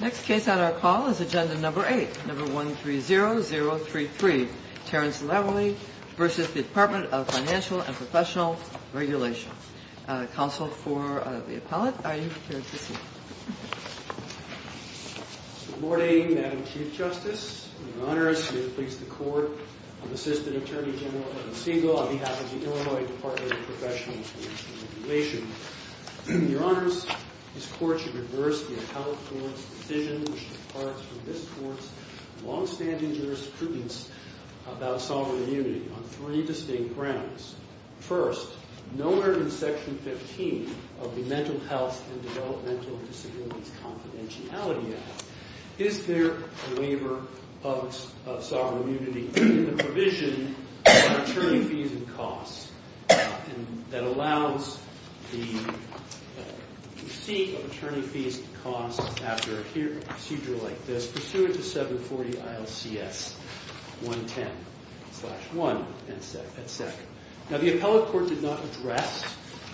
Next case on our call is Agenda No. 8, No. 130033, Terrence Lavery v. Department of Financial and Professional Regulation. Counsel for the appellant, are you prepared to speak? Good morning, Madam Chief Justice. It is my honor to introduce the Court of Assistant Attorney General for the Segal on behalf of the Illinois Department of Professional Regulation. Your Honors, this Court should reverse the appellate court's decision which departs from this Court's long-standing jurisprudence about sovereign immunity on three distinct grounds. First, noted in Section 15 of the Mental Health and Developmental Disabilities Confidentiality Act, is there a waiver of sovereign immunity in the provision of attorney fees and costs that allows the receipt of attorney fees and costs after a procedure like this pursuant to 740 ILCS 110-1 and 2. Now, the appellate court did not address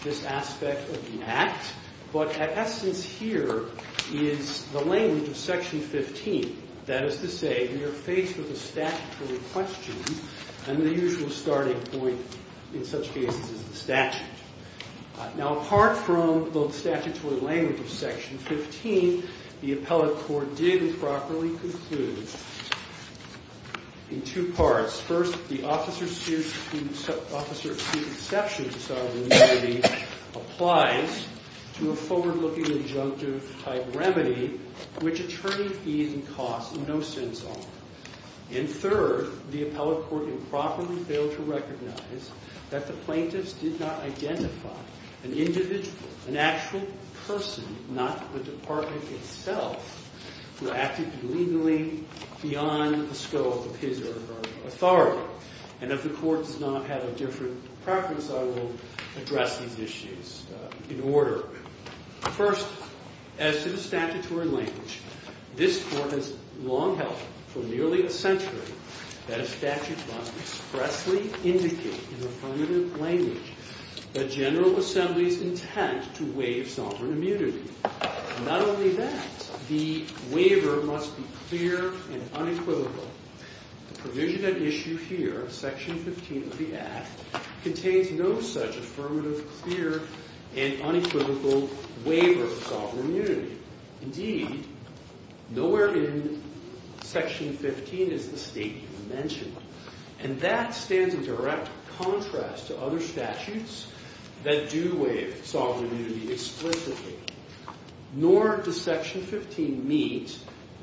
this aspect of the Act, but at essence here is the language of Section 15. That is to say, we are faced with a statutory question and the usual starting point in such cases is the statute. Now, apart from the statutory language of Section 15, the appellate court did improperly conclude in two parts. First, the officer's student exception to sovereign immunity applies to a forward-looking adjunctive-type remedy which attorney fees and costs in no sense are. And third, the appellate court improperly failed to recognize that the plaintiffs did not identify an individual, an actual person, not the department itself, who acted illegally beyond the scope of his or her authority. And if the court does not have a different preference, I will address these issues in order. First, as to the statutory language, this Court has long held for nearly a century that a statute must expressly indicate in affirmative language the General Assembly's intent to waive sovereign immunity. Not only that, the waiver must be clear and unequivocal. The provision at issue here, Section 15 of the Act, contains no such affirmative, clear, and unequivocal waiver of sovereign immunity. Indeed, nowhere in Section 15 is the statement mentioned. And that stands in direct contrast to other statutes that do waive sovereign immunity explicitly. Nor does Section 15 meet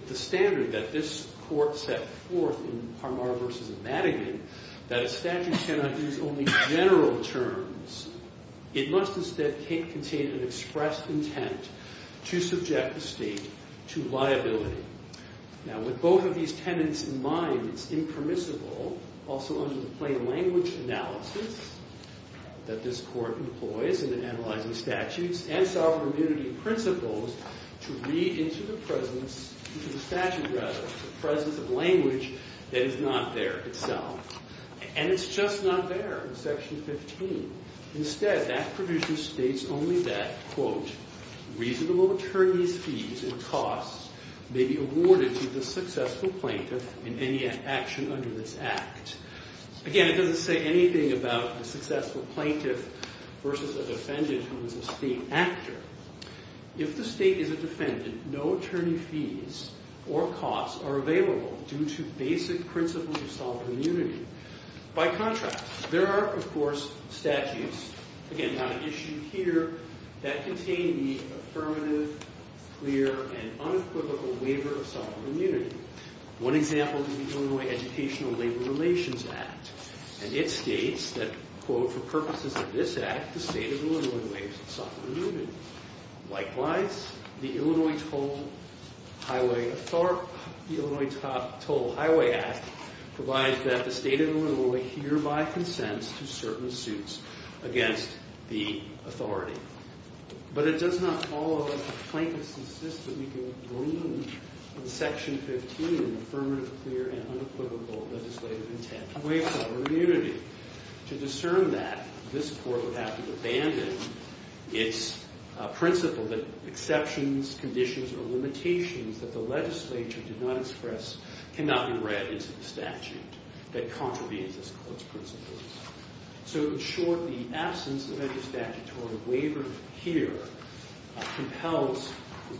the standard that this Court set forth in Parmar v. Madigan that a statute cannot use only general terms. It must instead contain an expressed intent to subject the state to liability. Now, with both of these tenets in mind, it's impermissible, also under the plain language analysis that this Court employs in analyzing statutes and sovereign immunity principles, to read into the presence, into the statute rather, the presence of language that is not there itself. And it's just not there in Section 15. Instead, that provision states only that, quote, reasonable attorneys' fees and costs may be awarded to the successful plaintiff in any action under this Act. Again, it doesn't say anything about the successful plaintiff versus a defendant who is a state actor. If the state is a defendant, no attorney fees or costs are available due to basic principles of sovereign immunity. By contrast, there are, of course, statutes, again, not at issue here, that contain the affirmative, clear, and unequivocal waiver of sovereign immunity. One example is the Illinois Educational Labor Relations Act. And it states that, quote, for purposes of this Act, the state of Illinois is sovereign immunity. Likewise, the Illinois Toll Highway Act provides that the state of Illinois hereby consents to certain suits against the authority. But it does not follow that the plaintiffs insist that we can glean from Section 15 an affirmative, clear, and unequivocal legislative intent to waive sovereign immunity. To discern that, this Court would have to abandon its principle that exceptions, conditions, or limitations that the legislature did not express cannot be read into the statute that contravenes this Court's principles. So, in short, the absence of any statutory waiver here compels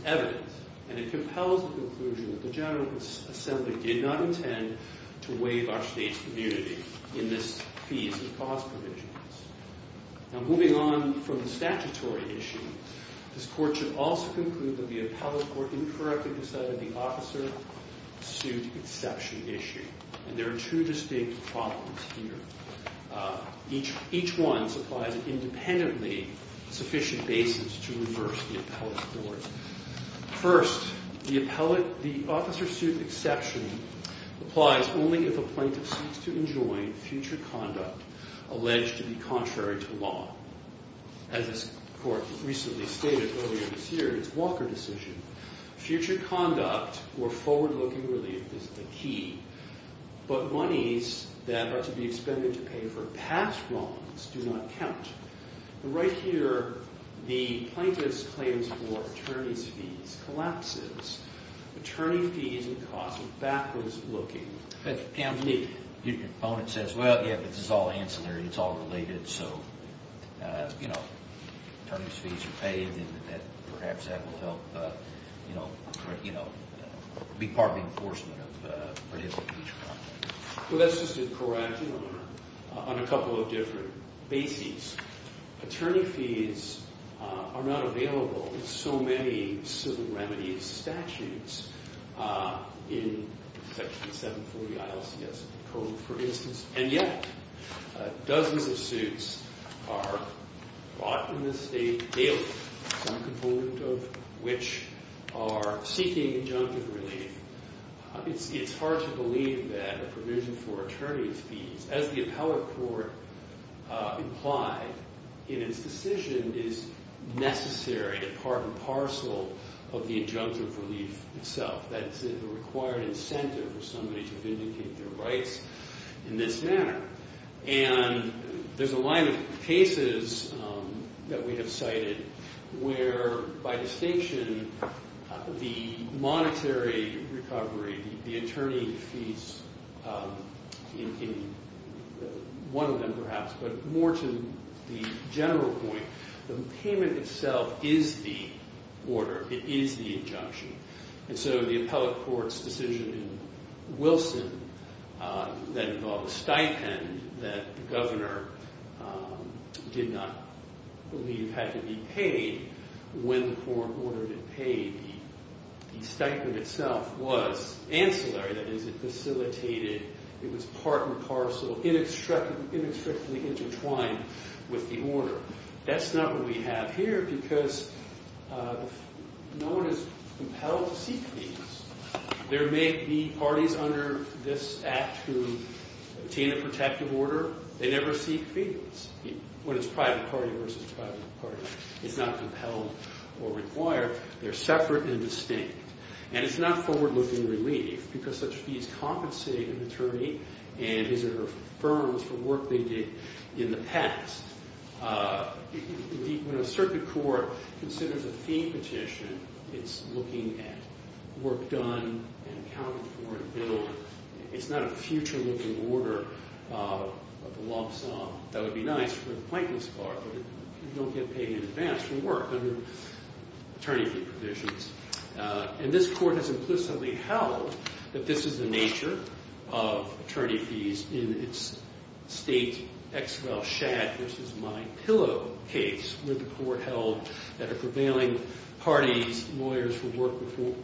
evidence. And it compels the conclusion that the General Assembly did not intend to waive our state's immunity in this piece of clause provisions. Now, moving on from the statutory issue, this Court should also conclude that the appellate court incorrectly decided the officer suit exception issue. And there are two distinct problems here. Each one supplies an independently sufficient basis to reverse the appellate court. First, the officer suit exception applies only if a plaintiff seeks to enjoin future conduct alleged to be contrary to law. As this Court recently stated earlier this year in its Walker decision, future conduct or forward-looking relief is the key, but monies that are to be expended to pay for past wrongs do not count. Right here, the plaintiff's claims for attorney's fees collapses. Attorney fees and costs are backwards-looking. Your opponent says, well, yeah, but this is all ancillary. It's all related. So, you know, attorney's fees are paid, and perhaps that will help, you know, be part of the enforcement of prohibitive fees. Well, that's just incorrect on a couple of different bases. Attorney fees are not available in so many civil remedies statutes in Section 740 ILCS Code, for instance, and yet dozens of suits are brought in this state daily, some component of which are seeking injunctive relief. It's hard to believe that a provision for attorney's fees, as the appellate court implied in its decision, is necessary and part and parcel of the injunctive relief itself. That's a required incentive for somebody to vindicate their rights in this manner. And there's a line of cases that we have cited where, by distinction, the monetary recovery, the attorney fees in one of them perhaps, but more to the general point, the payment itself is the order. It is the injunction. And so the appellate court's decision in Wilson that involved a stipend that the governor did not believe had to be paid, when the court ordered it paid, the stipend itself was ancillary, that is, it facilitated, it was part and parcel, inextricably intertwined with the order. That's not what we have here because no one is compelled to seek fees. There may be parties under this Act who obtain a protective order. They never seek fees when it's private party versus private party. It's not compelled or required. They're separate and distinct. And it's not forward-looking relief because such fees compensate an attorney and his or her firms for work they did in the past. When a circuit court considers a fee petition, it's looking at work done and accounted for and billed. It's not a future-looking order of the lump sum. That would be nice for the pointless part, but you don't get paid in advance for work under attorney fee provisions. And this court has implicitly held that this is the nature of attorney fees in its state ex-rel shag-versus-my-pillow case, where the court held that a prevailing party's lawyers for work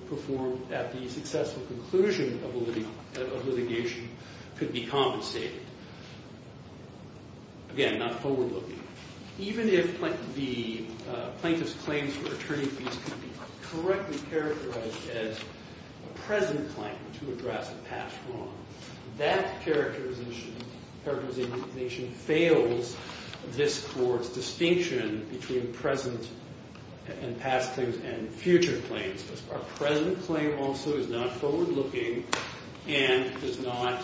performed at the successful conclusion of litigation could be compensated. Again, not forward-looking. Even if the plaintiff's claims for attorney fees can be correctly characterized as a present claim to address a past wrong, that characterization fails this court's distinction between present and past claims and future claims. Our present claim also is not forward-looking and does not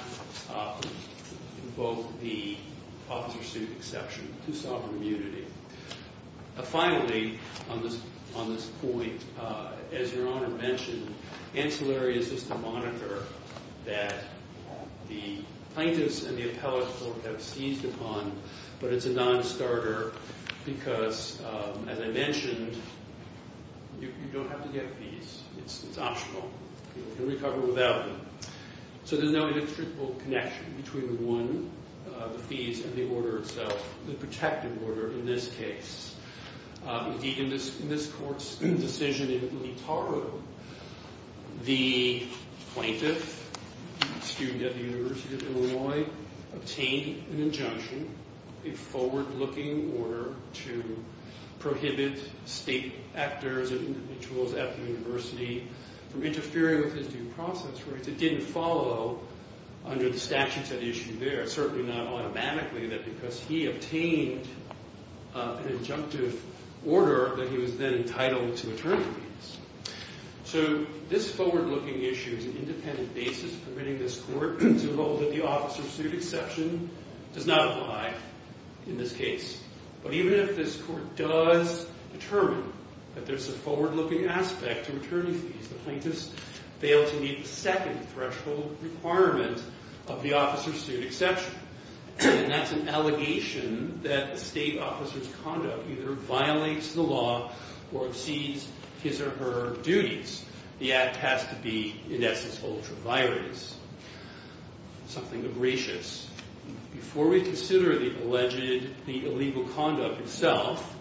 invoke the officer-suit exception to sovereign immunity. Finally, on this point, as Your Honor mentioned, ancillary is just a monitor that the plaintiffs and the appellate court have seized upon, but it's a non-starter because, as I mentioned, you don't have to get fees. It's optional. You can recover without them. So there's no inextricable connection between, one, the fees and the order itself, the protective order in this case. Indeed, in this court's decision in Leetaro, the plaintiff, a student at the University of Illinois, obtained an injunction, a forward-looking order, to prohibit state actors and individuals at the university from interfering with his due process rights. It didn't follow under the statutes at issue there, certainly not automatically, that because he obtained an injunctive order that he was then entitled to attorney fees. So this forward-looking issue is an independent basis permitting this court to hold that the officer-suit exception does not apply in this case. But even if this court does determine that there's a forward-looking aspect to attorney fees, the plaintiffs fail to meet the second threshold requirement of the officer-suit exception, and that's an allegation that a state officer's conduct either violates the law or exceeds his or her duties. The act has to be, in essence, ultra-virus, something abracious. Before we consider the alleged illegal conduct itself,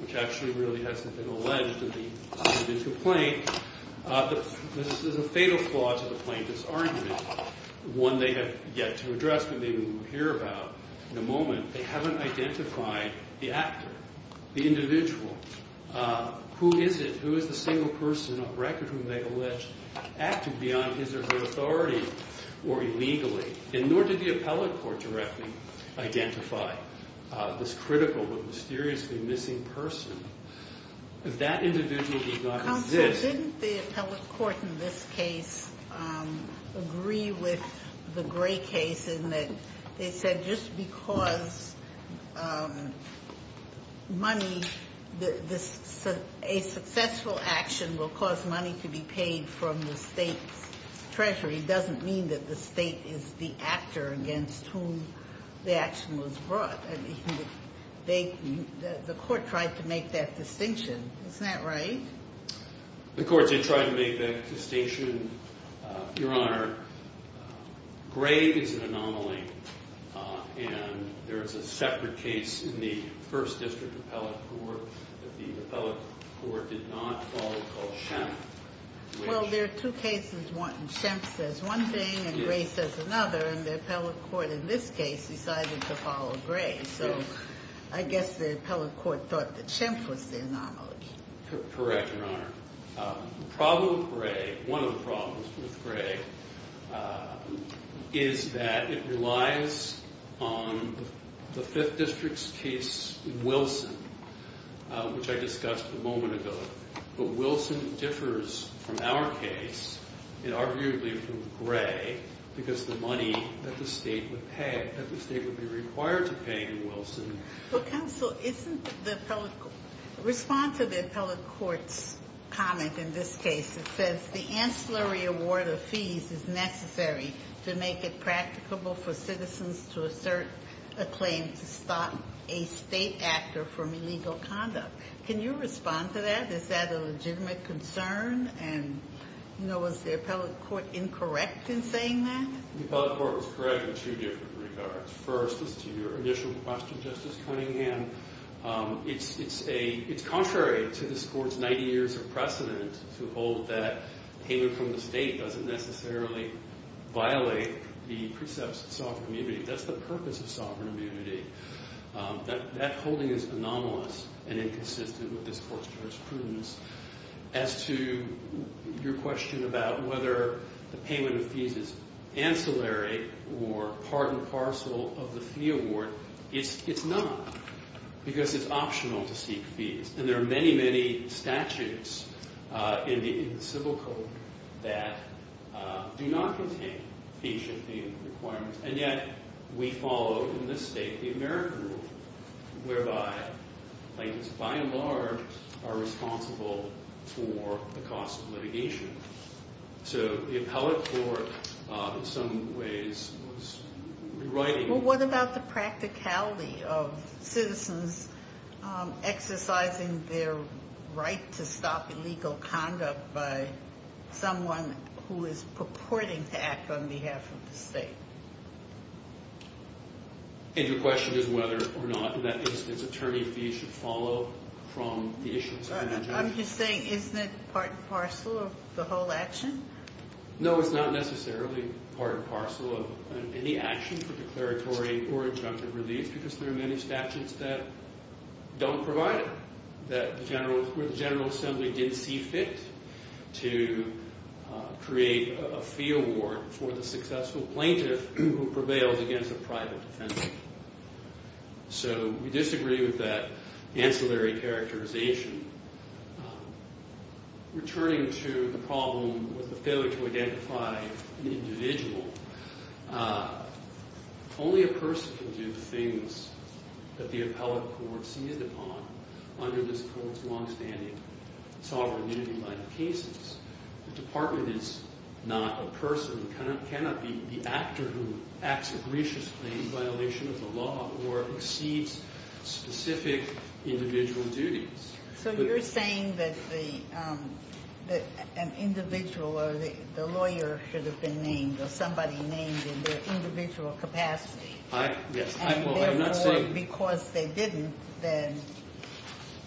which actually really hasn't been alleged to the individual plaintiff, there's a fatal flaw to the plaintiff's argument, one they have yet to address and maybe won't hear about in a moment. They haven't identified the actor, the individual. Who is it? Who is the single person on record whom they allege acted beyond his or her authority or illegally? And nor did the appellate court directly identify this critical but mysteriously missing person. That individual did not exist. Counsel, didn't the appellate court in this case agree with the Gray case in that they said just because money, a successful action will cause money to be paid from the state's treasury doesn't mean that the state is the actor against whom the action was brought? The court tried to make that distinction. Isn't that right? The court did try to make that distinction, Your Honor. Gray is an anomaly, and there is a separate case in the first district appellate court that the appellate court did not follow called Shemp. Well, there are two cases. Shemp says one thing and Gray says another, and the appellate court in this case decided to follow Gray. So I guess the appellate court thought that Shemp was the anomaly. Correct, Your Honor. The problem with Gray, one of the problems with Gray, is that it relies on the fifth district's case, Wilson, which I discussed a moment ago. But Wilson differs from our case, and arguably from Gray, because the money that the state would pay, that the state would be required to pay to Wilson. Counsel, isn't the appellate court, respond to the appellate court's comment in this case. It says the ancillary award of fees is necessary to make it practicable for citizens to assert a claim to stop a state actor from illegal conduct. Can you respond to that? Is that a legitimate concern? And was the appellate court incorrect in saying that? The appellate court was correct in two different regards. First, as to your initial question, Justice Cunningham, it's contrary to this court's 90 years of precedent to hold that payment from the state doesn't necessarily violate the precepts of sovereign immunity. That's the purpose of sovereign immunity. That holding is anomalous and inconsistent with this court's jurisprudence. As to your question about whether the payment of fees is ancillary or part and parcel of the fee award, it's not, because it's optional to seek fees. And there are many, many statutes in the civil code that do not contain fees, and yet we follow, in this state, the American rule, whereby plaintiffs, by and large, are responsible for the cost of litigation. So the appellate court, in some ways, was rewriting- Well, what about the practicality of citizens exercising their right to stop illegal conduct by someone who is purporting to act on behalf of the state? And your question is whether or not, in that instance, attorney fees should follow from the issuance. I'm just saying, isn't it part and parcel of the whole action? No, it's not necessarily part and parcel of any action for declaratory or injunctive release, because there are many statutes that don't provide it, where the General Assembly didn't see fit to create a fee award for the successful plaintiff who prevailed against a private defendant. So we disagree with that ancillary characterization. Returning to the problem with the failure to identify an individual, only a person can do the things that the appellate court sees upon under this court's long-standing sovereignty by the cases. The department is not a person, cannot be the actor who acts a gracious claim in violation of the law or exceeds specific individual duties. So you're saying that an individual or the lawyer should have been named, or somebody named in their individual capacity, and therefore, because they didn't, then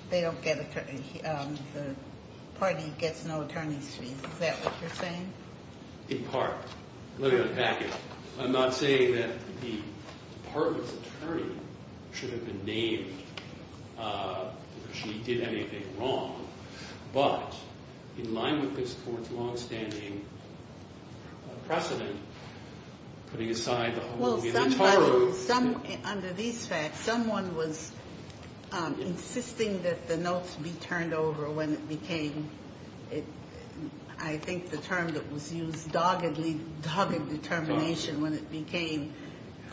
the party gets no attorney's fees. Is that what you're saying? In part. Let me go back. I'm not saying that the department's attorney should have been named because she did anything wrong, but in line with this court's long-standing precedent, putting aside the homogeneity of tarot... Well, under these facts, someone was insisting that the notes be turned over when it became, I think the term that was used, doggedly, dogged determination, when it became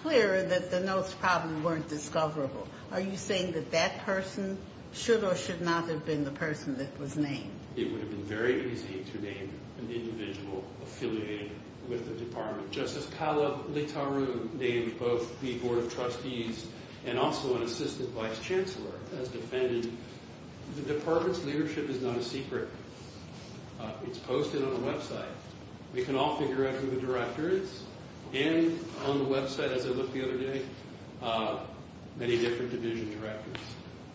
clear that the notes probably weren't discoverable. Are you saying that that person should or should not have been the person that was named? It would have been very easy to name an individual affiliated with the department. Justice Kala Littaru named both the board of trustees and also an assistant vice chancellor as defendant. The department's leadership is not a secret. It's posted on the website. We can all figure out who the director is. And on the website, as I looked the other day, many different division directors.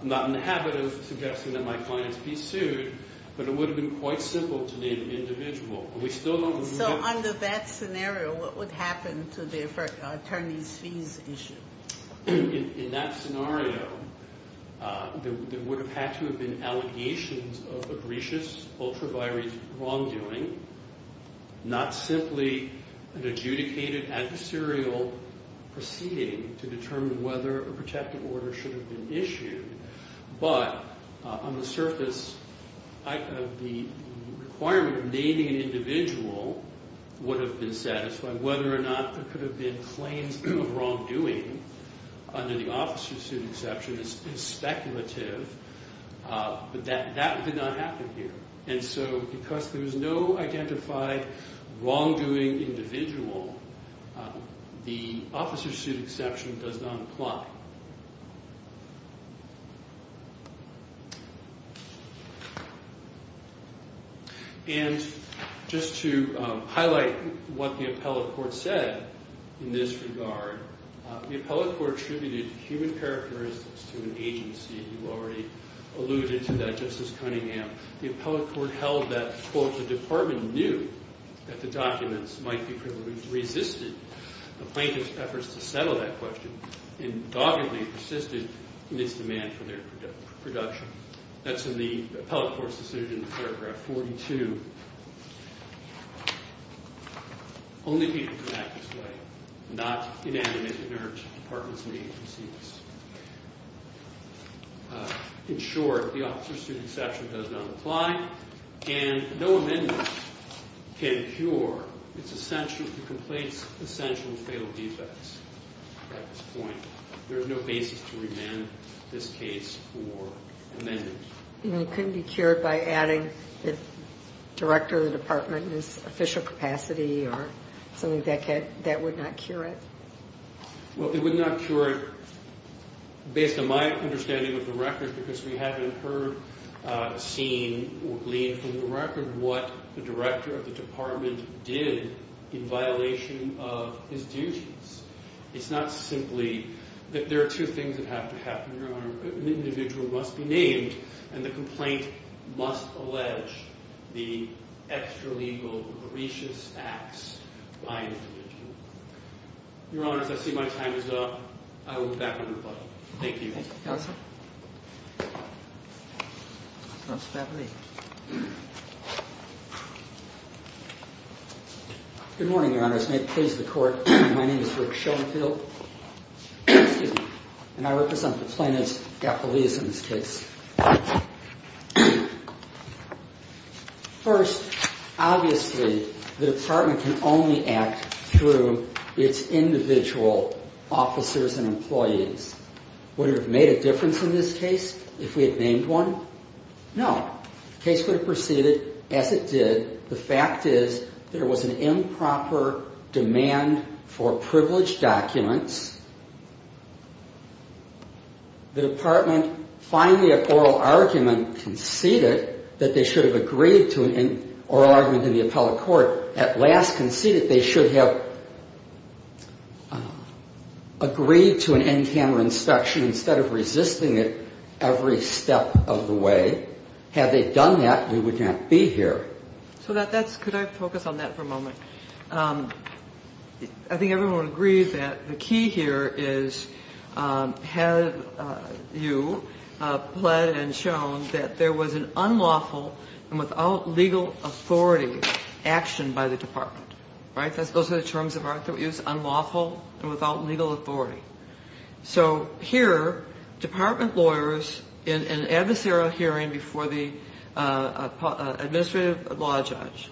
I'm not in the habit of suggesting that my clients be sued, but it would have been quite simple to name an individual. So under that scenario, what would happen to the attorneys' fees issue? In that scenario, there would have had to have been allegations of abrecious ultraviolent wrongdoing, not simply an adjudicated adversarial proceeding to determine whether a protective order should have been issued. But on the surface, the requirement of naming an individual would have been satisfied. Whether or not there could have been claims of wrongdoing, under the Office of Sued Exception, is speculative. But that did not happen here. And so because there was no identified wrongdoing individual, the Office of Sued Exception does not apply. And just to highlight what the appellate court said in this regard, the appellate court attributed human characteristics to an agency. You already alluded to that, Justice Cunningham. The appellate court held that, quote, the department knew that the documents might be privileged, resisted the plaintiff's efforts to settle that question, and doggedly persisted in its demand for their production. That's in the appellate court's decision in paragraph 42. Only people can act this way, not inanimate inert departments and agencies. In short, the Office of Sued Exception does not apply, and no amendments can cure the complaint's essential and fatal defects at this point. There is no basis to remand this case for amendments. And it couldn't be cured by adding the director of the department in his official capacity or something that would not cure it? Well, it would not cure it based on my understanding of the record because we haven't heard, seen, or gleaned from the record what the director of the department did in violation of his duties. It's not simply that there are two things that have to happen, Your Honor. An individual must be named, and the complaint must allege the extralegal, gracious acts by an individual. Your Honor, as I see my time is up, I will move back on rebuttal. Thank you. Good morning, Your Honor. As may it please the Court, my name is Rick Schoenfeld, and I represent the plaintiff's affiliates in this case. First, obviously, the department can only act through its individual officers and employees. Would it have made a difference in this case if we had named one? No. The case would have proceeded as it did. The fact is there was an improper demand for privileged documents. The department finally, at oral argument, conceded that they should have agreed to it in oral argument in the appellate court. At last conceded they should have agreed to an in-camera inspection instead of resisting it every step of the way. Had they done that, we would not be here. Could I focus on that for a moment? I think everyone agrees that the key here is have you pled and shown that there was an unlawful and without legal authority action by the department. Those are the terms of our use, unlawful and without legal authority. So here department lawyers in an adversarial hearing before the administrative law judge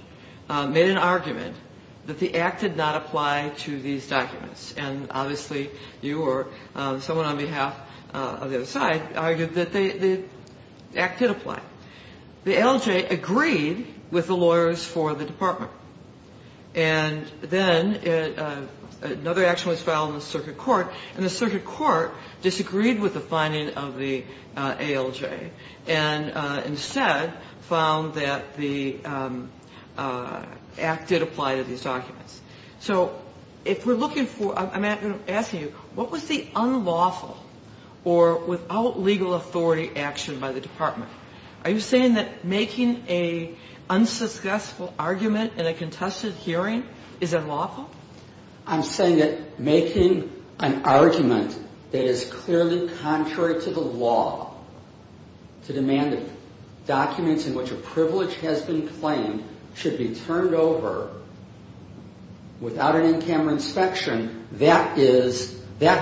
made an argument that the act did not apply to these documents. And obviously you or someone on behalf of the other side argued that the act did apply. The LJ agreed with the lawyers for the department. And then another action was filed in the circuit court, and the circuit court disagreed with the finding of the ALJ and instead found that the act did apply to these documents. So if we're looking for – I'm asking you, what was the unlawful or without legal authority action by the department? Are you saying that making an unsuspecting argument in a contested hearing is unlawful? I'm saying that making an argument that is clearly contrary to the law to demand that documents in which a privilege has been claimed should be turned over without an in-camera inspection, that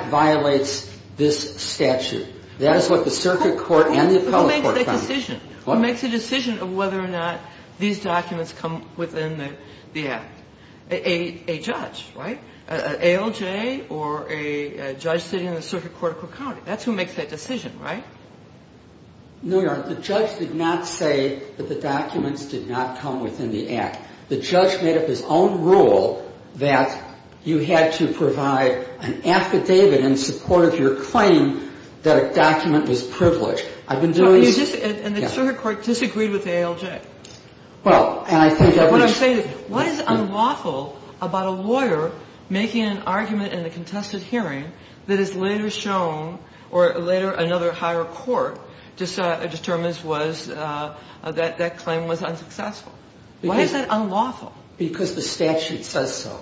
violates this statute. That is what the circuit court and the appellate court found. Who makes the decision? Who makes the decision of whether or not these documents come within the act? A judge, right? An ALJ or a judge sitting in the circuit court of Cook County. That's who makes that decision, right? No, Your Honor. The judge did not say that the documents did not come within the act. The judge made up his own rule that you had to provide an affidavit in support of your claim that a document was privileged. I've been doing – And the circuit court disagreed with the ALJ. Well, and I think – What is unlawful about a lawyer making an argument in a contested hearing that is later shown or later another higher court determines was that that claim was unsuccessful? Why is that unlawful? Because the statute says so.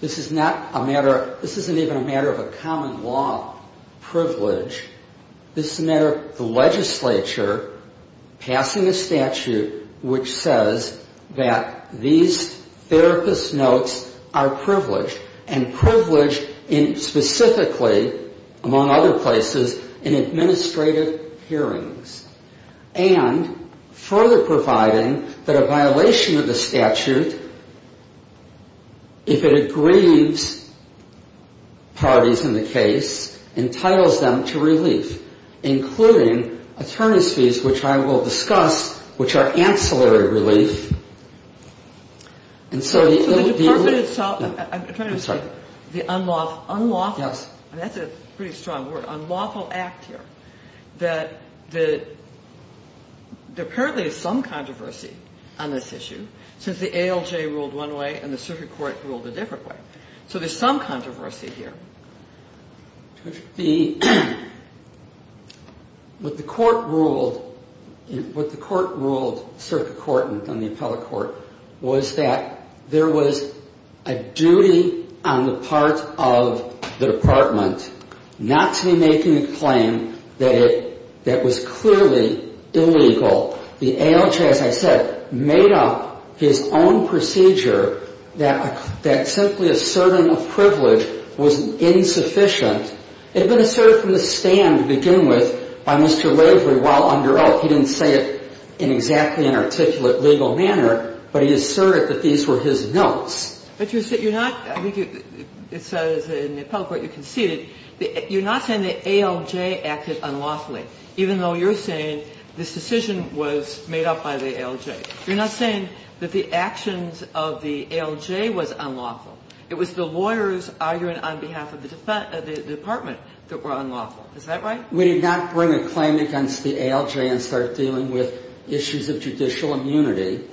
This is not a matter – This isn't even a matter of a common law privilege. This is a matter of the legislature passing a statute which says that these therapist notes are privileged and privileged in specifically, among other places, in administrative hearings and further providing that a violation of the statute, if it aggrieves parties in the case, entitles them to relief, including attorneys' fees, which I will discuss, which are ancillary relief. And so the – So the department itself – I'm sorry. The unlawful – unlawful – Yes. That's a pretty strong word. Unlawful act here that the – There apparently is some controversy on this issue since the ALJ ruled one way and the circuit court ruled a different way. So there's some controversy here. The – What the court ruled – What the court ruled, circuit court and then the appellate court, was that there was a duty on the part of the department not to be making a claim that it – that was clearly illegal. The ALJ, as I said, made up his own procedure that simply asserting a privilege was insufficient. It had been asserted from the stand to begin with by Mr. Waverly while under oath. He didn't say it in exactly an articulate legal manner, but he asserted that these were his notes. But you're not – I think it says in the appellate court you conceded. You're not saying the ALJ acted unlawfully, even though you're saying this decision was made up by the ALJ. You're not saying that the actions of the ALJ was unlawful. It was the lawyers arguing on behalf of the department that were unlawful. Is that right? We did not bring a claim against the ALJ and start dealing with issues of judicial immunity.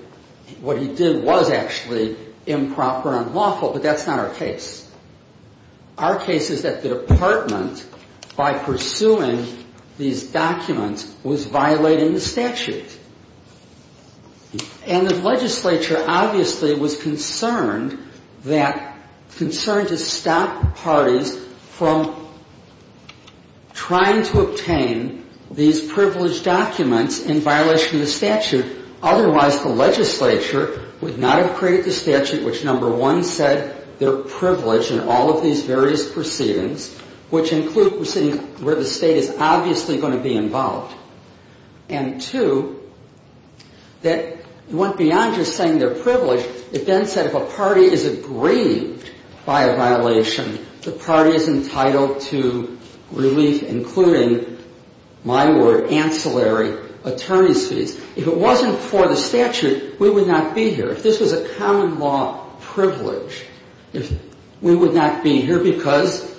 What he did was actually improper and unlawful, but that's not our case. Our case is that the department, by pursuing these documents, was violating the statute. And the legislature obviously was concerned that – concerned to stop parties from trying to obtain these privileged documents in violation of the statute. Otherwise, the legislature would not have created the statute, which, number one, said they're privileged in all of these various proceedings, which include proceedings where the State is obviously going to be involved. And, two, that it went beyond just saying they're privileged. It then said if a party is aggrieved by a violation, the party is entitled to relief, including, my word, ancillary attorney's fees. If it wasn't for the statute, we would not be here. If this was a common law privilege, we would not be here because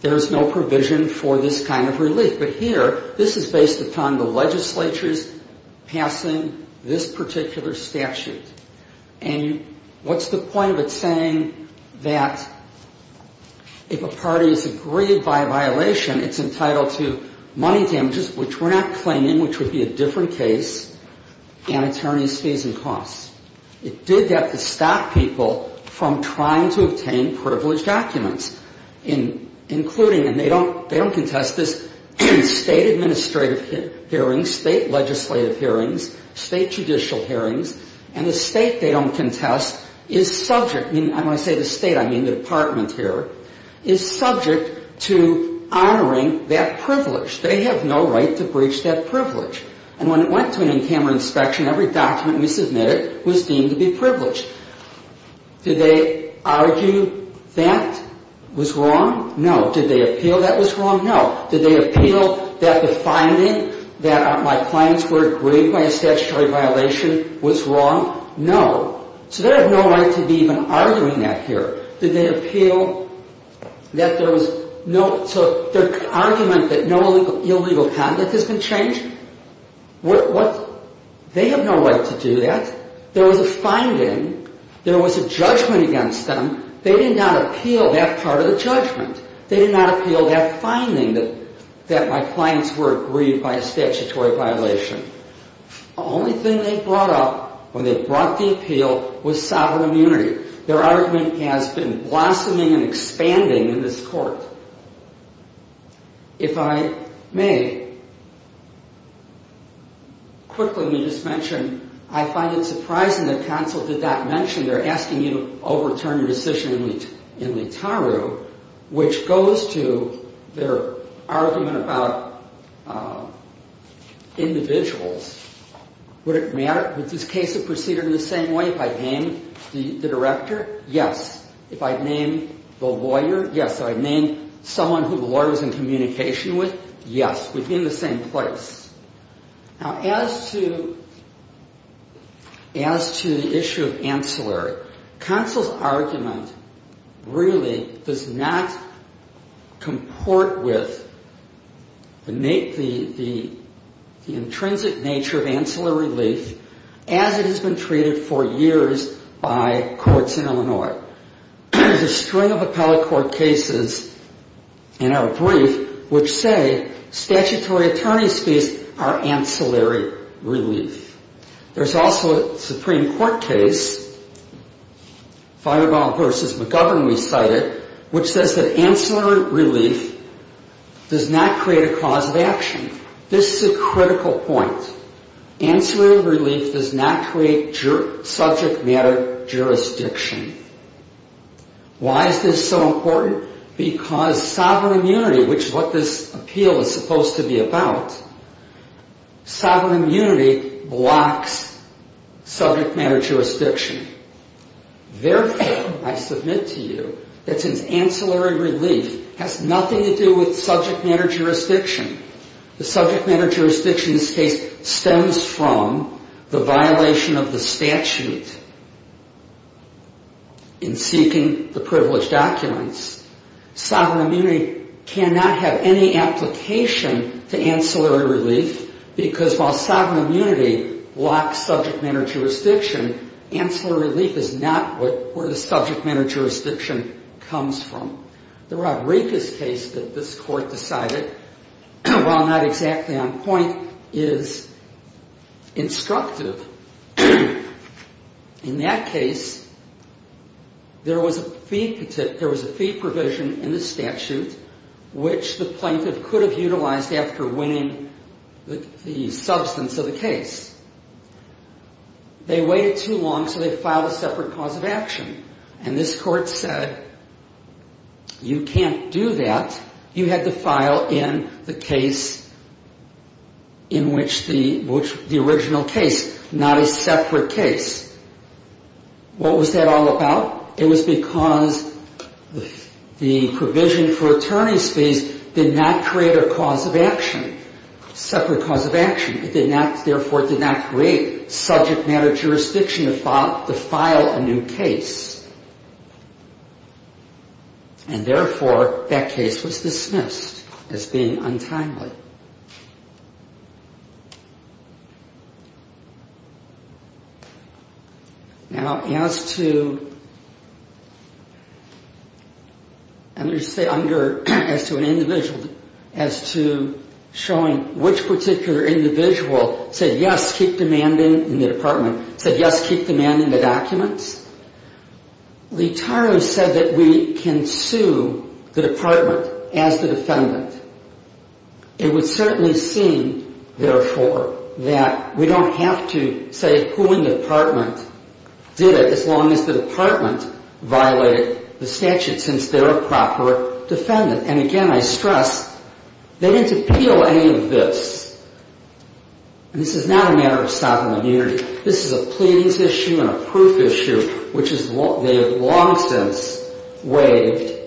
there's no provision for this kind of relief. But here, this is based upon the legislature's passing this particular statute. And what's the point of it saying that if a party is aggrieved by a violation, it's entitled to money damages, which we're not claiming, which would be a different case, and attorney's fees and costs? It did that to stop people from trying to obtain privileged documents, including, and they don't contest this, State administrative hearings, State legislative hearings, State judicial hearings, and the State they don't contest is subject, and when I say the State, I mean the Department here, is subject to honoring that privilege. They have no right to breach that privilege. And when it went to an in-camera inspection, every document we submitted was deemed to be privileged. Did they argue that was wrong? No. Did they appeal that was wrong? No. Did they appeal that the finding that my clients were aggrieved by a statutory violation was wrong? No. So they have no right to be even arguing that here. Did they appeal that there was no, so their argument that no illegal conduct has been changed? What, they have no right to do that. There was a finding. There was a judgment against them. They did not appeal that part of the judgment. They did not appeal that finding that my clients were aggrieved by a statutory violation. The only thing they brought up when they brought the appeal was sovereign immunity. Their argument has been blossoming and expanding in this Court. If I may, quickly, let me just mention, I find it surprising that counsel did not mention they're asking you to overturn a decision in Leetaru, which goes to their argument about individuals. Would it matter? Would this case have proceeded in the same way if I had named the director? Yes. If I had named the lawyer? Yes. If I had named someone who the lawyer was in communication with? Yes. Within the same place. Now, as to the issue of ancillary, counsel's argument really does not comport with the intrinsic nature of ancillary relief as it has been treated for years by courts in Illinois. There's a string of appellate court cases in our brief which say statutory attorney's fees are ancillary relief. There's also a Supreme Court case, Feinbaum v. McGovern, we cited, which says that ancillary relief does not create a cause of action. This is a critical point. Ancillary relief does not create subject matter jurisdiction. Why is this so important? Because sovereign unity, which is what this appeal is supposed to be about, sovereign unity blocks subject matter jurisdiction. Therefore, I submit to you that since ancillary relief has nothing to do with subject matter jurisdiction, the subject matter jurisdiction case stems from the violation of the statute in seeking the privileged documents. Sovereign unity cannot have any application to ancillary relief because while sovereign unity blocks subject matter jurisdiction, ancillary relief is not where the subject matter jurisdiction comes from. The Rodriguez case that this court decided, while not exactly on point, is instructive. In that case, there was a fee provision in the statute which the plaintiff could have utilized after winning the substance of the case. They waited too long, so they filed a separate cause of action. And this court said, you can't do that. You had to file in the case in which the original case, not a separate case. What was that all about? It was because the provision for attorney's fees did not create a cause of action, separate cause of action. Therefore, it did not create subject matter jurisdiction to file a new case. And therefore, that case was dismissed as being untimely. Now, as to, under, as to an individual, as to showing which particular individual said yes, keep demanding in the department, said yes, keep demanding the documents, Leetaro said that we can sue the department as the defendant. It would certainly seem, therefore, that we don't have to say who in the department did it, as long as the department violated the statute, since they're a proper defendant. And again, I stress, they didn't appeal any of this. And this is not a matter of sovereign immunity. This is a pleadings issue and a proof issue, which they have long since waived,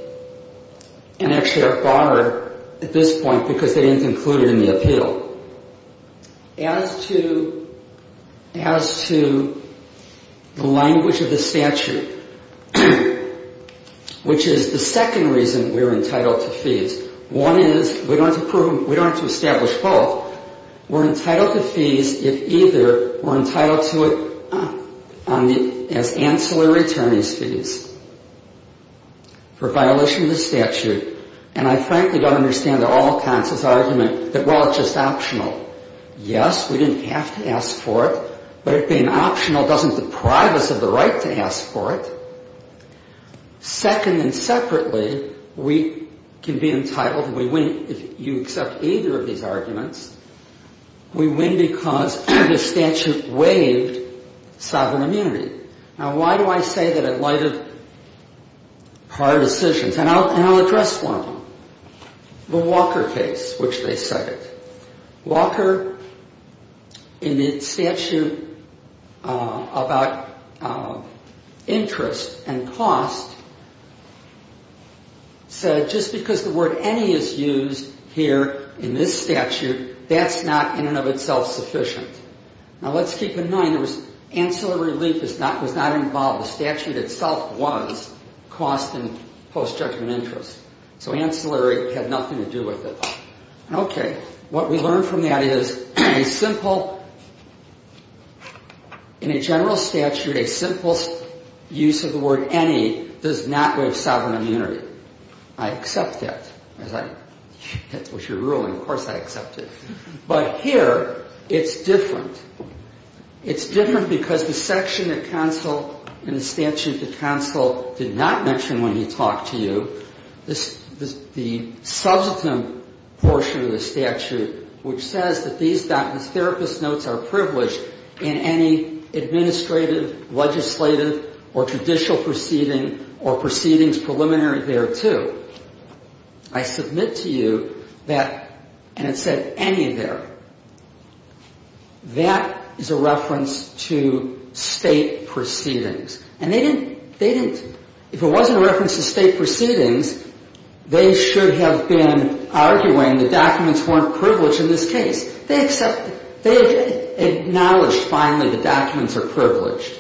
and actually are barred at this point because they didn't include it in the appeal. As to, as to the language of the statute, which is the second reason we're entitled to fees, one is, we don't have to establish both. We're entitled to fees if either were entitled to it on the, as ancillary attorneys' fees for violation of the statute. And I frankly don't understand the all-consensus argument that, well, it's just optional. Yes, we didn't have to ask for it, but it being optional doesn't deprive us of the right to ask for it. Second and separately, we can be entitled, we win, if you accept either of these arguments, we win because the statute waived sovereign immunity. Now, why do I say that in light of hard decisions? And I'll address one of them, the Walker case, which they cited. Walker, in its statute about interest and cost, said just because the word any is used here in this statute, that's not in and of itself sufficient. Now, let's keep in mind there was, ancillary relief was not involved. The statute itself was cost and post-judgment interest. So ancillary had nothing to do with it. Okay. What we learn from that is a simple, in a general statute, a simple use of the word any does not waive sovereign immunity. I accept that. That was your ruling. Of course I accept it. But here, it's different. It's different because the section of counsel in the statute that counsel did not mention when he talked to you, the substantive portion of the statute which says that these therapist notes are privileged in any administrative, legislative, or traditional proceeding or proceedings preliminary thereto. I submit to you that, and it said any there, that is a reference to state proceedings. And they didn't, if it wasn't a reference to state proceedings, they should have been arguing the documents weren't privileged in this case. They accepted, they acknowledged finally the documents are privileged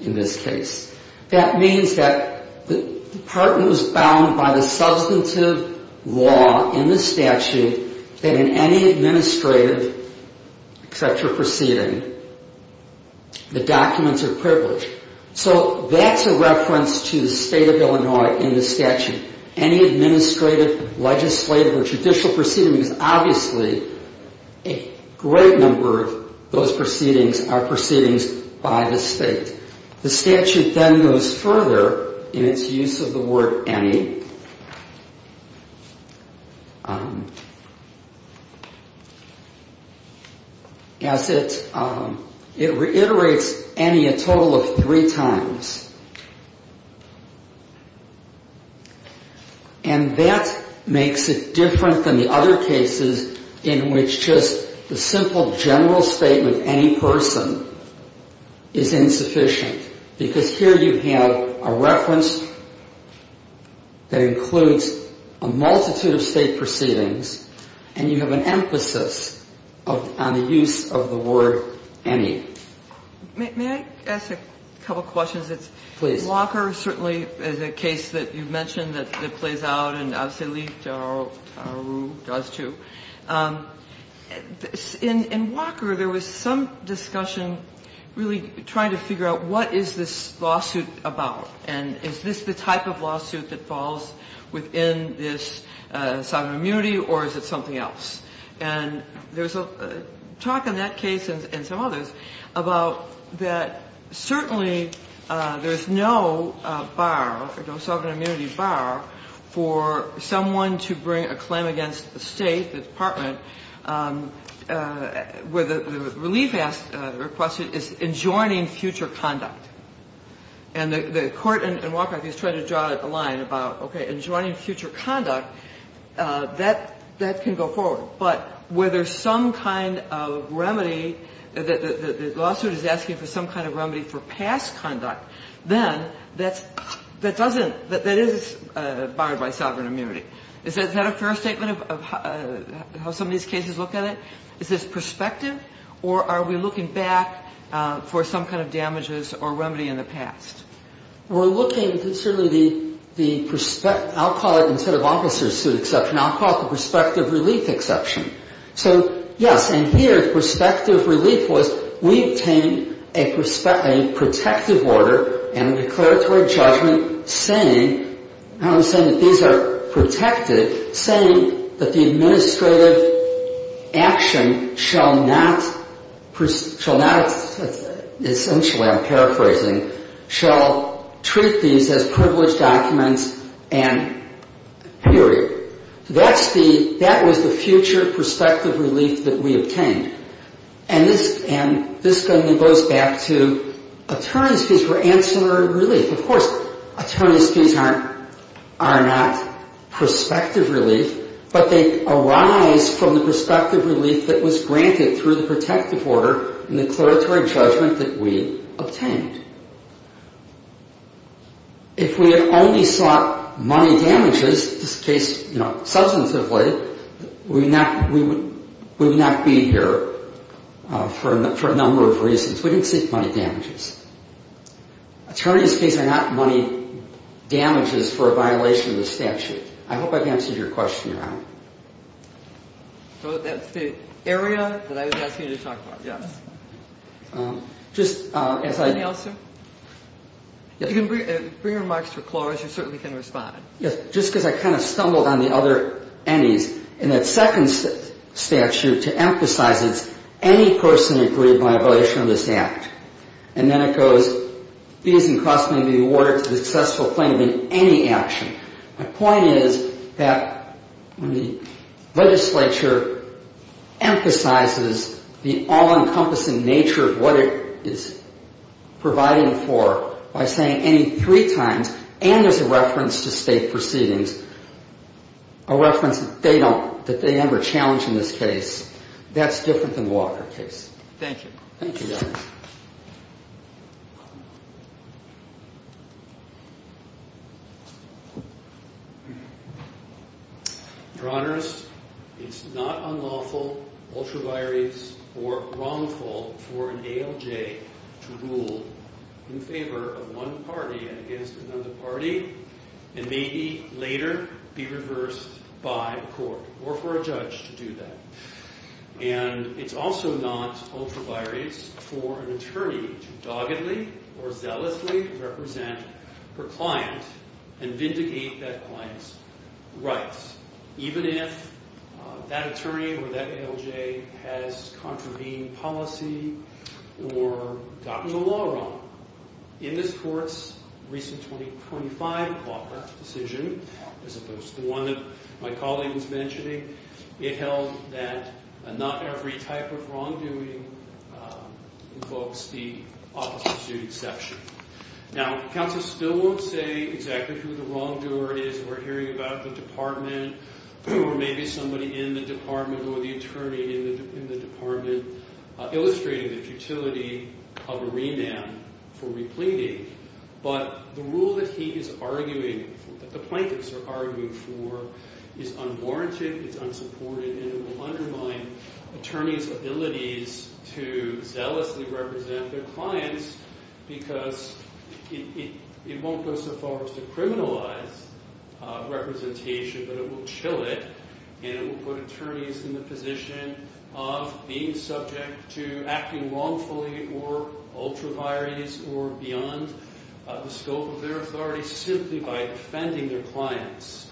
in this case. That means that the department was bound by the substantive law in the statute that in any administrative, etc. proceeding, the documents are privileged. So that's a reference to the state of Illinois in the statute. Any administrative, legislative, or judicial proceeding is obviously a great number of those proceedings are proceedings by the state. The statute then goes further in its use of the word any. As it reiterates any a total of three times. And that makes it different than the other cases in which just the simple general statement any person is insufficient. Because here you have a reference that includes a multitude of state proceedings. And you have an emphasis on the use of the word any. May I ask a couple of questions? Please. Walker certainly is a case that you mentioned that plays out and obviously Lee Taru does too. In Walker there was some discussion really trying to figure out what is this lawsuit about? And is this the type of lawsuit that falls within this sovereign immunity or is it something else? And there's a talk in that case and some others about that certainly there's no bar, no sovereign immunity bar for someone to bring a claim against the state, the department, where the relief request is enjoining future conduct. And the court in Walker is trying to draw a line about okay, enjoining future conduct, that can go forward. But where there's some kind of remedy, the lawsuit is asking for some kind of remedy for past conduct, then that doesn't, that is barred by sovereign immunity. Is that a fair statement of how some of these cases look at it? Is this prospective or are we looking back for some kind of damages or remedy in the past? We're looking at certainly the prospect, I'll call it instead of officer's suit exception, I'll call it the prospective relief exception. So yes, and here prospective relief was we obtained a protective order and declaratory judgment saying, I'm not saying that these are protected, saying that the administrative action shall not, shall not, essentially I'm paraphrasing, shall treat these as privileged documents and period. That's the, that was the future prospective relief that we obtained. And this, and this then goes back to attorneys fees for ancillary relief. Of course, attorneys fees aren't, are not prospective relief, but they arise from the prospective relief that was granted through the protective order and the declaratory judgment that we obtained. If we had only sought money damages, in this case, you know, substantively, we would not be here for a number of reasons. We didn't seek money damages. Attorneys fees are not money damages for a violation of the statute. I hope I've answered your question, Your Honor. So that's the area that I was asking you to talk about, yes. Just as I. Anything else, sir? If you can bring your remarks to a close, you certainly can respond. Yes, just because I kind of stumbled on the other anys. In that second statute, to emphasize it, any person agreed by a violation of this act. And then it goes, fees and costs may be awarded to the successful plaintiff in any action. My point is that the legislature emphasizes the all-encompassing nature of what it is providing for by saying any three times, and there's a reference to state proceedings, a reference that they don't, that they never challenge in this case. That's different than the Walker case. Thank you. Thank you, Your Honor. Your Honor, it's not unlawful, ultraviolence, or wrongful for an ALJ to rule in favor of one party and against another party and maybe later be reversed by a court or for a judge to do that. And it's also not ultraviolence for an attorney to doggedly or zealously represent her client and vindicate that client's rights, even if that attorney or that ALJ has contravened policy or gotten the law wrong. In this Court's recent 2025 Walker decision, as opposed to the one that my colleague was mentioning, it held that not every type of wrongdoing invokes the Office of Sued Exception. Now, counsel still won't say exactly who the wrongdoer is we're hearing about in the department or maybe somebody in the department or the attorney in the department illustrating the futility of a remand for repleting. But the rule that he is arguing, that the plaintiffs are arguing for, is unwarranted, is unsupported, and it will undermine attorneys' abilities to zealously represent their clients because it won't go so far as to criminalize representation, but it will chill it and it will put attorneys in the position of being subject to acting wrongfully or ultraviolence or beyond the scope of their authority simply by offending their clients.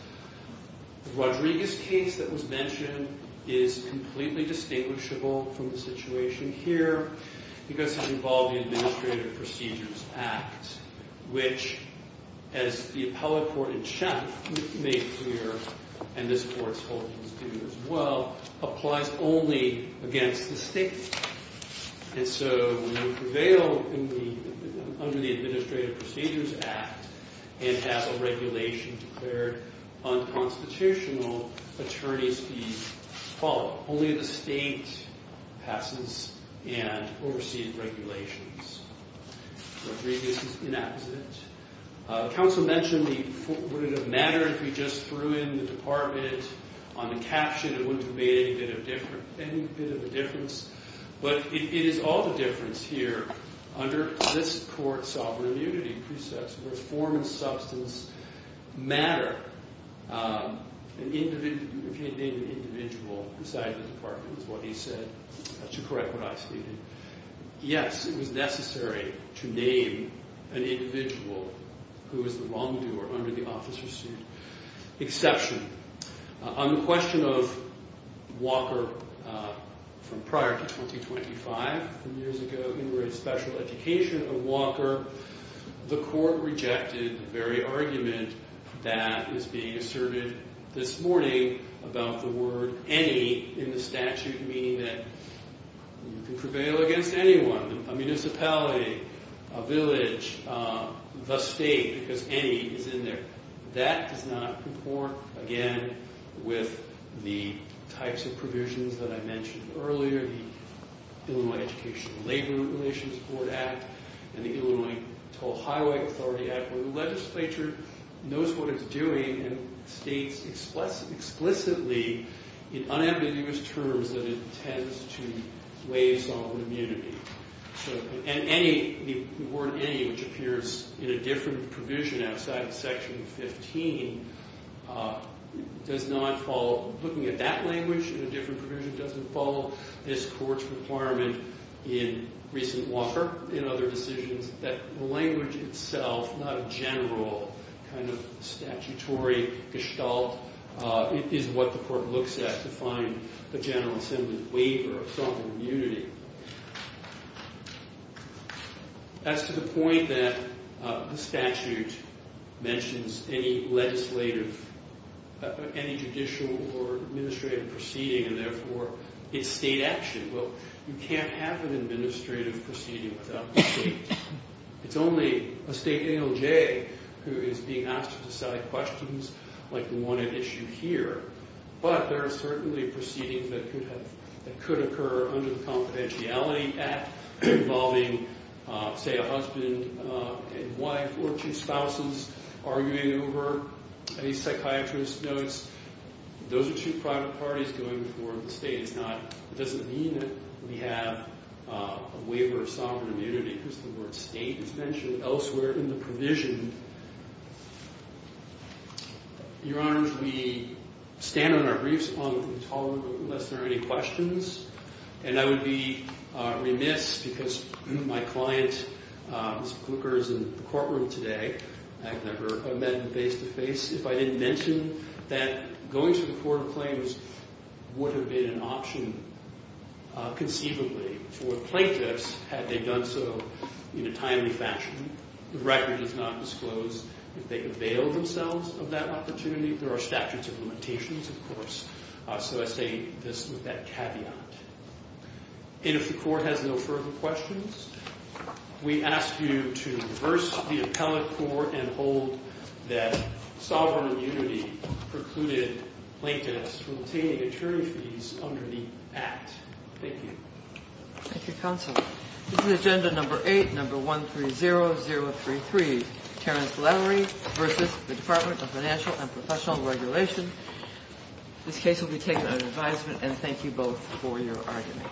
The Rodriguez case that was mentioned is completely distinguishable from the situation here because it involved the Administrative Procedures Act, which, as the appellate court in Shem made clear, and this Court's holdings do as well, applies only against the state. And so we prevail under the Administrative Procedures Act and have a regulation declared unconstitutional attorneys be followed. Only the state passes and oversees regulations. Rodriguez is inexistent. The counsel mentioned would it have mattered if we just threw in the department on the caption and it wouldn't have made any bit of a difference, but it is all the difference here under this Court's sovereign immunity precepts that form and substance matter. If he had named an individual beside the department is what he said. That's to correct what I stated. Yes, it was necessary to name an individual who was the wrongdoer under the officer's suit. Exception. On the question of Walker from prior to 2025, from years ago, we were in special education of Walker. The Court rejected the very argument that is being asserted this morning about the word any in the statute, meaning that you can prevail against anyone, a municipality, a village, the state, because any is in there. That does not comport, again, with the types of provisions that I mentioned earlier, the Illinois Education and Labor Relations Board Act and the Illinois to Ohio Authority Act, where the legislature knows what it's doing and states explicitly in unambiguous terms that it intends to waive sovereign immunity. And any, the word any, which appears in a different provision outside Section 15, does not follow. Looking at that language in a different provision doesn't follow. This Court's requirement in recent Walker, in other decisions, that language itself, not a general kind of statutory gestalt, is what the Court looks at to find the General Assembly's waiver of sovereign immunity. As to the point that the statute mentions any legislative, any judicial or administrative proceeding, and therefore it's state action. Well, you can't have an administrative proceeding without the state. It's only a state ALJ who is being asked to decide questions like the one at issue here. But there are certainly proceedings that could occur under the Confidentiality Act involving, say, a husband and wife or two spouses arguing over a psychiatrist's notes. Those are two private parties going before the state. It's not, it doesn't mean that we have a waiver of sovereign immunity because the word state is mentioned elsewhere in the provision. Your Honors, we stand on our briefs on the control room unless there are any questions. And I would be remiss because my client, Mr. Booker, is in the courtroom today. I've never met him face-to-face. If I didn't mention that going to the court of claims would have been an option conceivably for plaintiffs had they done so in a timely fashion. The record does not disclose if they avail themselves of that opportunity. There are statutes of limitations, of course, so I say this with that caveat. And if the court has no further questions, we ask you to reverse the appellate court and hold that sovereign immunity precluded plaintiffs from obtaining attorney fees under the Act. Thank you. Thank you, Counsel. This is agenda number 8, number 130033, Terrence Lowery versus the Department of Financial and Professional Regulation. This case will be taken under advisement, and thank you both for your argument.